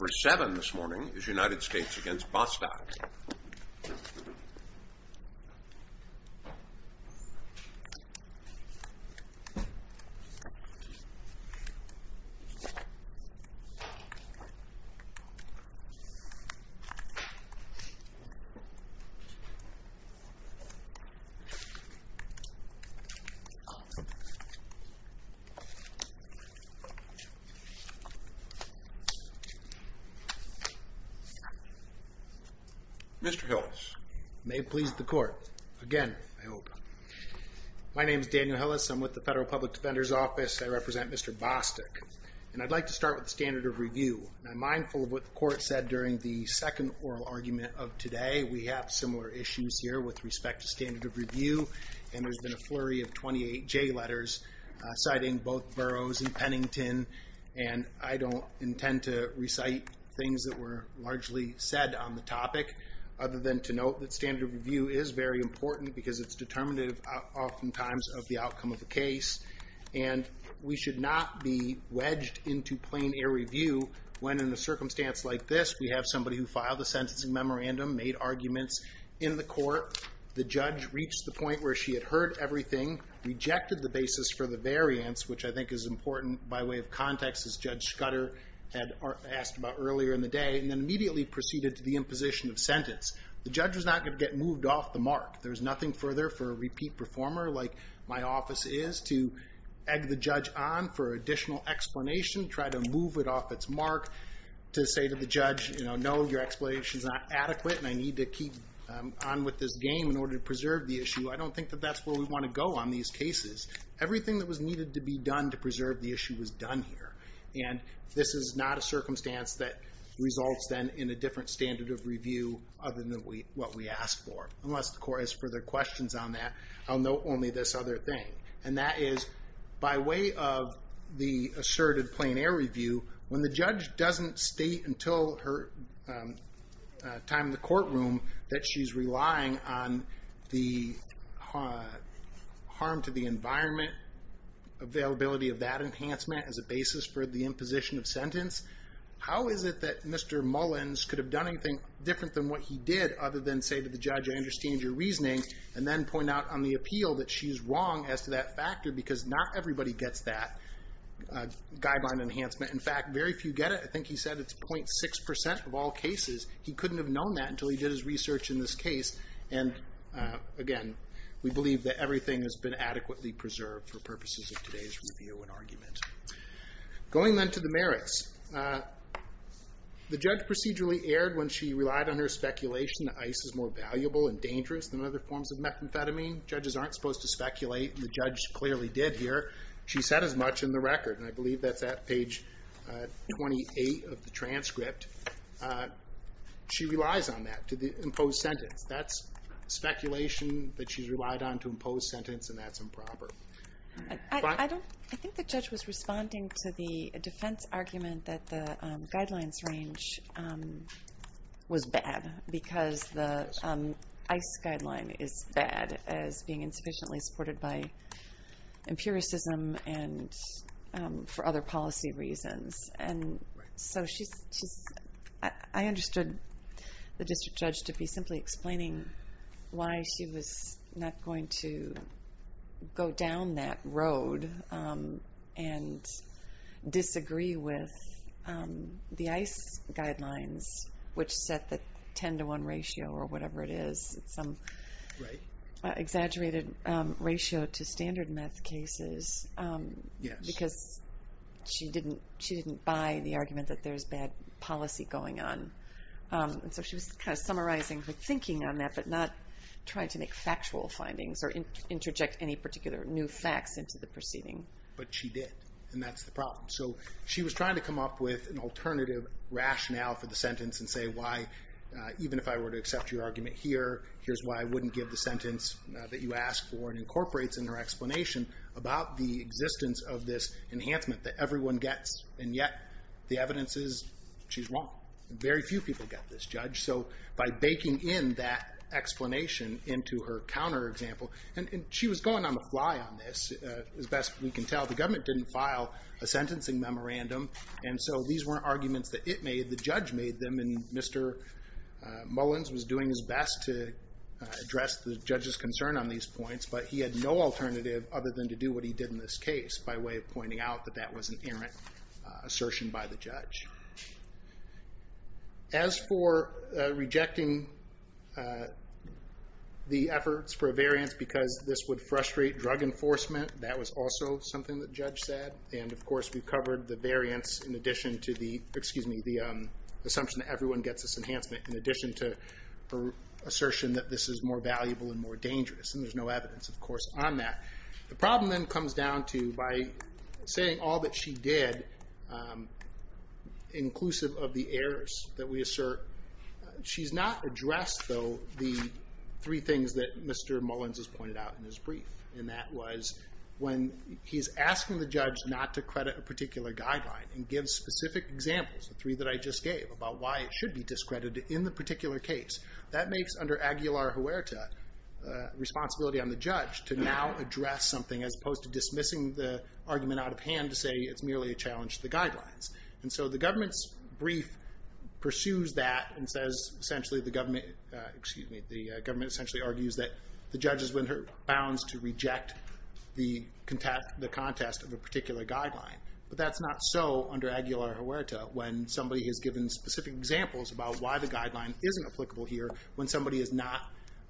Number seven this morning is United States against Bostock. Mr. Hillis. May it please the court. Again, I hope. My name is Daniel Hillis. I'm with the Federal Public Defender's Office. I represent Mr. Bostock. And I'd like to start with the standard of review. I'm mindful of what the court said during the second oral argument of today. We have similar issues here with respect to standard of review. And there's been a flurry of 28 J letters citing both Burroughs and Pennington. And I don't intend to recite things that were largely said on the topic. Other than to note that standard of review is very important because it's determinative oftentimes of the outcome of the case. And we should not be wedged into plain air review when in a circumstance like this, we have somebody who filed a sentencing memorandum, made arguments in the court. The judge reached the point where she had heard everything, rejected the basis for the variance, which I think is important by way of context, as Judge Scudder had asked about earlier in the day, and then immediately proceeded to the imposition of sentence. The judge was not going to get moved off the mark. There's nothing further for a repeat performer like my office is to egg the judge on for additional explanation, try to move it off its mark to say to the judge, you know, no, your explanation is not adequate. And I need to keep on with this game in order to preserve the issue. I don't think that that's where we want to go on these cases. Everything that was needed to be done to preserve the issue was done here. And this is not a circumstance that results then in a different standard of review other than what we asked for. Unless the court has further questions on that, I'll note only this other thing. And that is, by way of the asserted plein air review, when the judge doesn't state until her time in the courtroom that she's relying on the harm to the environment, availability of that enhancement as a basis for the imposition of sentence, how is it that Mr. Mullins could have done anything different than what he did other than say to the judge, I understand your reasoning, and then point out on the appeal that she's wrong as to that factor because not everybody gets that guideline enhancement. In fact, very few get it. I think he said it's 0.6% of all cases. He couldn't have known that until he did his research in this case. And again, we believe that everything has been adequately preserved for purposes of today's review and argument. Going then to the merits. The judge procedurally erred when she relied on her speculation that ice is more valuable and dangerous than other forms of methamphetamine. Judges aren't supposed to speculate, and the judge clearly did here. She said as much in the record, and I believe that's at page 28 of the transcript. She relies on that to impose sentence. That's speculation that she's relied on to impose sentence, and that's improper. I think the judge was responding to the defense argument that the guidelines range was bad because the ice guideline is bad as being insufficiently supported by empiricism and for other policy reasons. I understood the district judge to be simply explaining why she was not going to go down that road and disagree with the ice guidelines, which set the 10 to 1 ratio or whatever it is. It's some exaggerated ratio to standard meth cases because she didn't buy the argument that there's bad policy going on. And so she was kind of summarizing her thinking on that, but not trying to make factual findings or interject any particular new facts into the proceeding. But she did, and that's the problem. So she was trying to come up with an alternative rationale for the sentence and say why, even if I were to accept your argument here, here's why I wouldn't give the sentence that you asked for and incorporates in her explanation about the existence of this enhancement that everyone gets. And yet the evidence is she's wrong. Very few people get this, Judge. So by baking in that explanation into her counter example, and she was going on the fly on this, as best we can tell. The government didn't file a sentencing memorandum, and so these weren't arguments that it made. The judge made them, and Mr. Mullins was doing his best to address the judge's concern on these points, but he had no alternative other than to do what he did in this case by way of pointing out that that was an errant assertion by the judge. As for rejecting the efforts for a variance because this would frustrate drug enforcement, that was also something the judge said. And of course we covered the variance in addition to the assumption that everyone gets this enhancement in addition to her assertion that this is more valuable and more dangerous. And there's no evidence, of course, on that. The problem then comes down to by saying all that she did, inclusive of the errors that we assert, she's not addressed, though, the three things that Mr. Mullins has pointed out in his brief. And that was when he's asking the judge not to credit a particular guideline and gives specific examples, the three that I just gave, about why it should be discredited in the particular case. That makes, under Aguilar Huerta, responsibility on the judge to now address something as opposed to dismissing the argument out of hand to say it's merely a challenge to the guidelines. And so the government's brief pursues that and says essentially the government, essentially argues that the judge is bound to reject the contest of a particular guideline. But that's not so under Aguilar Huerta when somebody has given specific examples about why the guideline isn't applicable here when somebody is not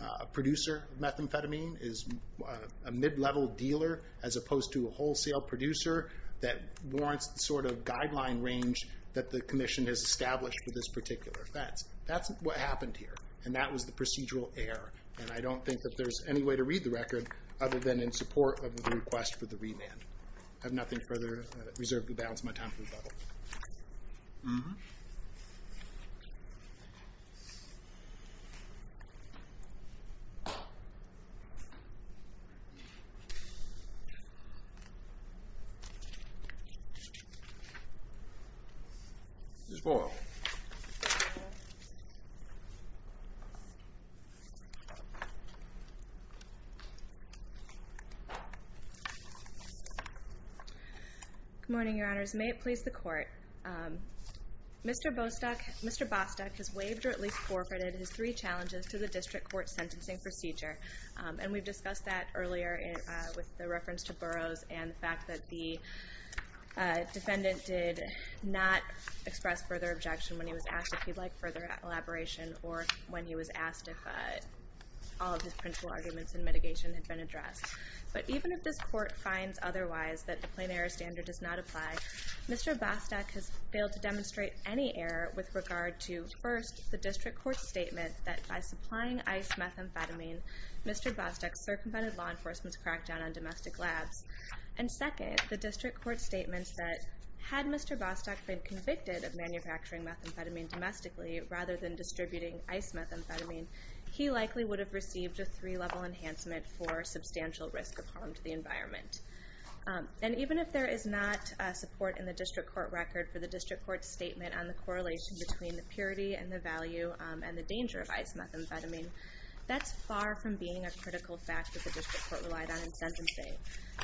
a producer of methamphetamine, is a mid-level dealer as opposed to a wholesale producer that warrants the sort of guideline range that the commission has established for this particular offense. That's what happened here, and that was the procedural error. And I don't think that there's any way to read the record other than in support of the request for the remand. I have nothing further reserved to balance my time for rebuttal. Mm-hmm. Good morning, Your Honors. May it please the Court. Mr. Bostock has waived or at least forfeited his three challenges to the district court sentencing procedure. And we've discussed that earlier with the reference to Burroughs and the fact that the defendant did not express further objection when he was asked if he'd like further elaboration or when he was asked if all of his principle arguments in mitigation had been addressed. But even if this Court finds otherwise that the plain error standard does not apply, Mr. Bostock has failed to demonstrate any error with regard to, first, the district court's statement that by supplying ICE methamphetamine, Mr. Bostock circumvented law enforcement's crackdown on domestic labs. And second, the district court's statement that had Mr. Bostock been convicted of manufacturing methamphetamine domestically rather than distributing ICE methamphetamine, he likely would have received a three-level enhancement for substantial risk of harm to the environment. And even if there is not support in the district court record for the district court's statement on the correlation between the purity and the value and the danger of ICE methamphetamine, that's far from being a critical fact that the district court relied on in sentencing.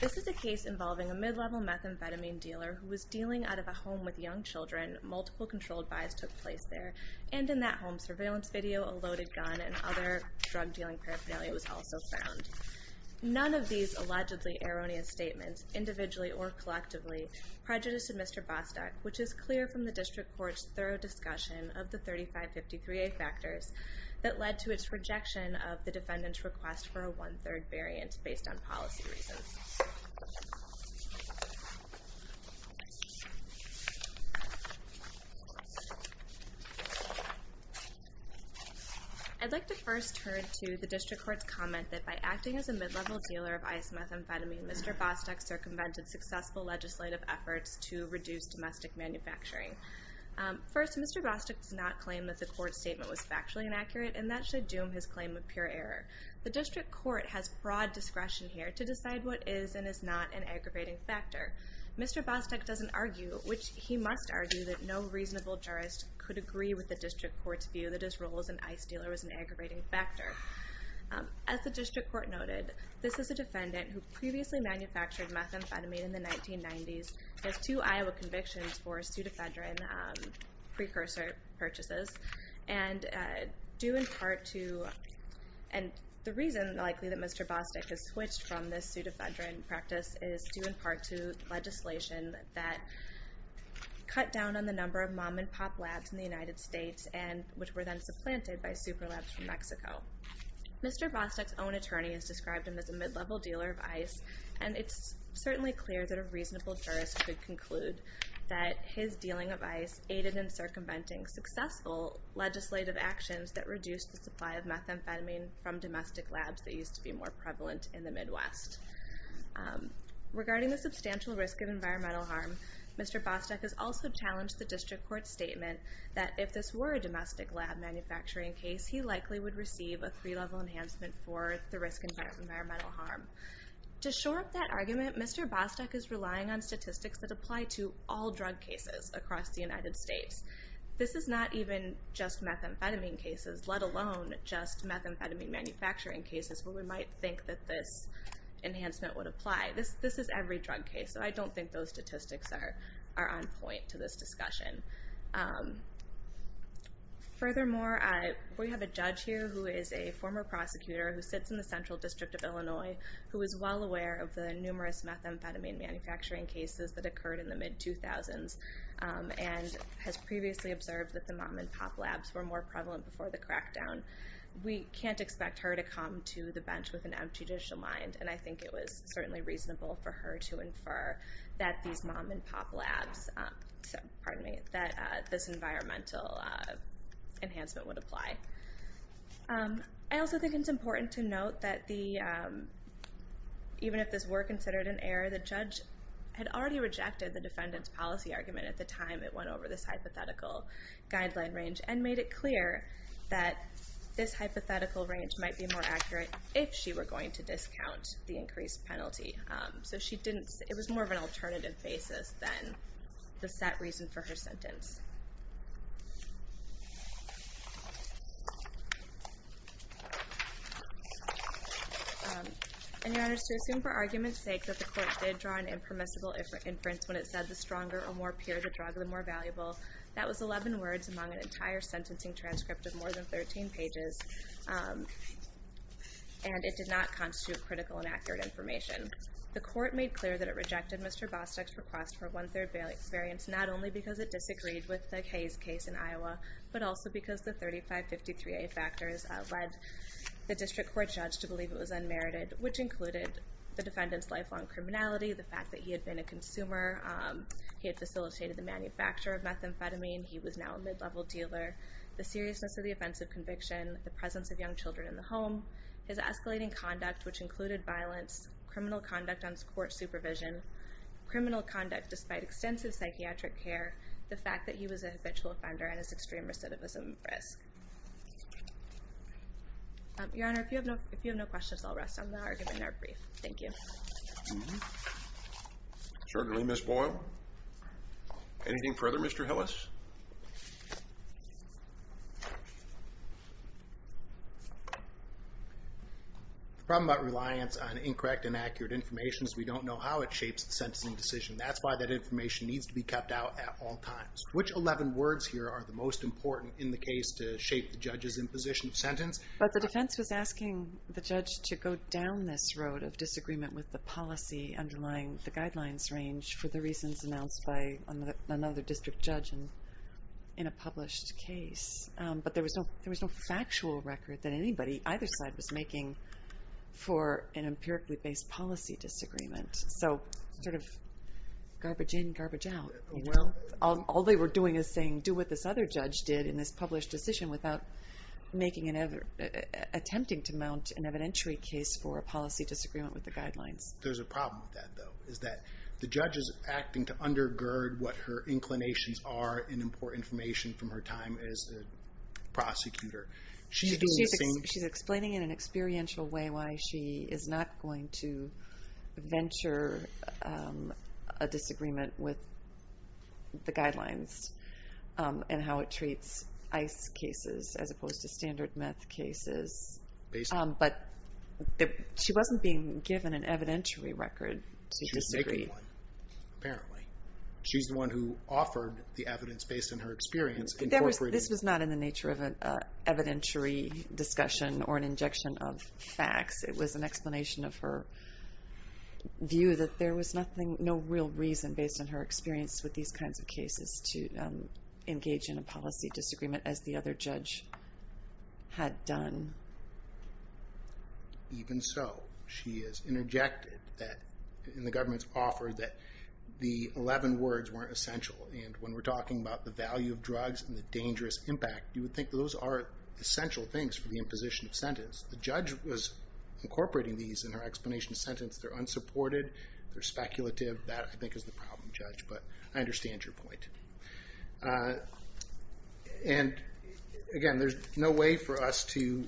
This is a case involving a mid-level methamphetamine dealer who was dealing out of a home with young children. Multiple controlled buys took place there. And in that home, surveillance video, a loaded gun, and other drug-dealing paraphernalia was also found. None of these allegedly erroneous statements, individually or collectively, prejudiced Mr. Bostock, which is clear from the district court's thorough discussion of the 3553A factors that led to its rejection of the defendant's request for a one-third variant based on policy reasons. I'd like to first turn to the district court's comment that by acting as a mid-level dealer of ICE methamphetamine, Mr. Bostock circumvented successful legislative efforts to reduce domestic manufacturing. First, Mr. Bostock does not claim that the court's statement was factually inaccurate, and that should doom his claim of pure error. The district court has broad discretion here to decide what is and is not an aggravating factor. Mr. Bostock doesn't argue, which he must argue, that no reasonable jurist could agree with the district court's view that his role as an ICE dealer was an aggravating factor. As the district court noted, this is a defendant who previously manufactured methamphetamine in the 1990s and has two Iowa convictions for pseudophedrine precursor purchases. The reason, likely, that Mr. Bostock has switched from this pseudophedrine practice is due in part to legislation that cut down on the number of mom-and-pop labs in the United States, which were then supplanted by super labs from Mexico. Mr. Bostock's own attorney has described him as a mid-level dealer of ICE, and it's certainly clear that a reasonable jurist could conclude that his dealing of ICE aided in circumventing successful legislative actions that reduced the supply of methamphetamine from domestic labs that used to be more prevalent in the Midwest. Regarding the substantial risk of environmental harm, Mr. Bostock has also challenged the district court's statement that if this were a domestic lab manufacturing case, he likely would receive a three-level enhancement for the risk of environmental harm. To shore up that argument, Mr. Bostock is relying on statistics that apply to all drug cases across the United States. This is not even just methamphetamine cases, let alone just methamphetamine manufacturing cases, where we might think that this enhancement would apply. This is every drug case, so I don't think those statistics are on point to this discussion. Furthermore, we have a judge here who is a former prosecutor who sits in the Central District of Illinois who is well aware of the numerous methamphetamine manufacturing cases that occurred in the mid-2000s and has previously observed that the mom-and-pop labs were more prevalent before the crackdown. We can't expect her to come to the bench with an empty judicial mind, and I think it was certainly reasonable for her to infer that these mom-and-pop labs that this environmental enhancement would apply. I also think it's important to note that even if this were considered an error, the judge had already rejected the defendant's policy argument at the time it went over this hypothetical guideline range and made it clear that this hypothetical range might be more accurate if she were going to discount the increased penalty. So it was more of an alternative basis than the set reason for her sentence. In your honors, to assume for argument's sake that the court did draw an impermissible inference when it said the stronger or more pure the drug, the more valuable, that was 11 words among an entire sentencing transcript of more than 13 pages, and it did not constitute critical and accurate information. The court made clear that it rejected Mr. Bostick's request for one-third variance not only because it disagreed with the Hayes case in Iowa, but also because the 3553A factors led the district court judge to believe it was unmerited, which included the defendant's lifelong criminality, the fact that he had been a consumer, he had facilitated the manufacture of methamphetamine, he was now a mid-level dealer, the seriousness of the offense of conviction, the presence of young children in the home, his escalating conduct which included violence, criminal conduct on court supervision, criminal conduct despite extensive psychiatric care, the fact that he was a habitual offender and his extreme recidivism risk. Your Honor, if you have no questions, I'll rest on the argument in our brief. Thank you. Certainly, Ms. Boyle. Anything further, Mr. Hillis? No. The problem about reliance on incorrect and accurate information is we don't know how it shapes the sentencing decision. That's why that information needs to be kept out at all times. Which 11 words here are the most important in the case to shape the judge's imposition of sentence? The defense was asking the judge to go down this road of disagreement with the policy underlying the guidelines range for the reasons announced by another district judge in a published case. But there was no factual record that anybody, either side, was making for an empirically based policy disagreement. So sort of garbage in, garbage out. All they were doing is saying do what this other judge did in this published decision without attempting to mount an evidentiary case for a policy disagreement with the guidelines. There's a problem with that, though, is that the judge is acting to undergird what her inclinations are in important information from her time as a prosecutor. She's doing the same... She's explaining in an experiential way why she is not going to venture a disagreement with the guidelines and how it treats ICE cases as opposed to standard meth cases. But she wasn't being given an evidentiary record to disagree. She was making one, apparently. She's the one who offered the evidence based on her experience. This was not in the nature of an evidentiary discussion or an injection of facts. It was an explanation of her view that there was no real reason, based on her experience with these kinds of cases, to engage in a policy disagreement as the other judge had done. Even so, she has interjected in the government's offer that the 11 words weren't essential. And when we're talking about the value of drugs and the dangerous impact, you would think those are essential things for the imposition of sentence. The judge was incorporating these in her explanation sentence. They're unsupported. They're speculative. That, I think, is the problem, Judge, but I understand your point. Again, there's no way for us to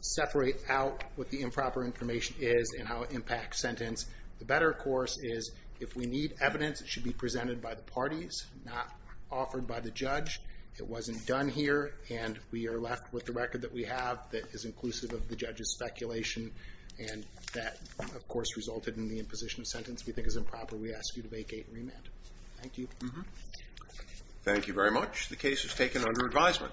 separate out what the improper information is and how it impacts sentence. The better, of course, is if we need evidence, it should be presented by the parties, not offered by the judge. It wasn't done here, and we are left with the record that we have that is inclusive of the judge's speculation. And that, of course, resulted in the imposition of sentence we think is improper. We ask you to vacate and remand. Thank you. Thank you very much. The case is taken under advisement.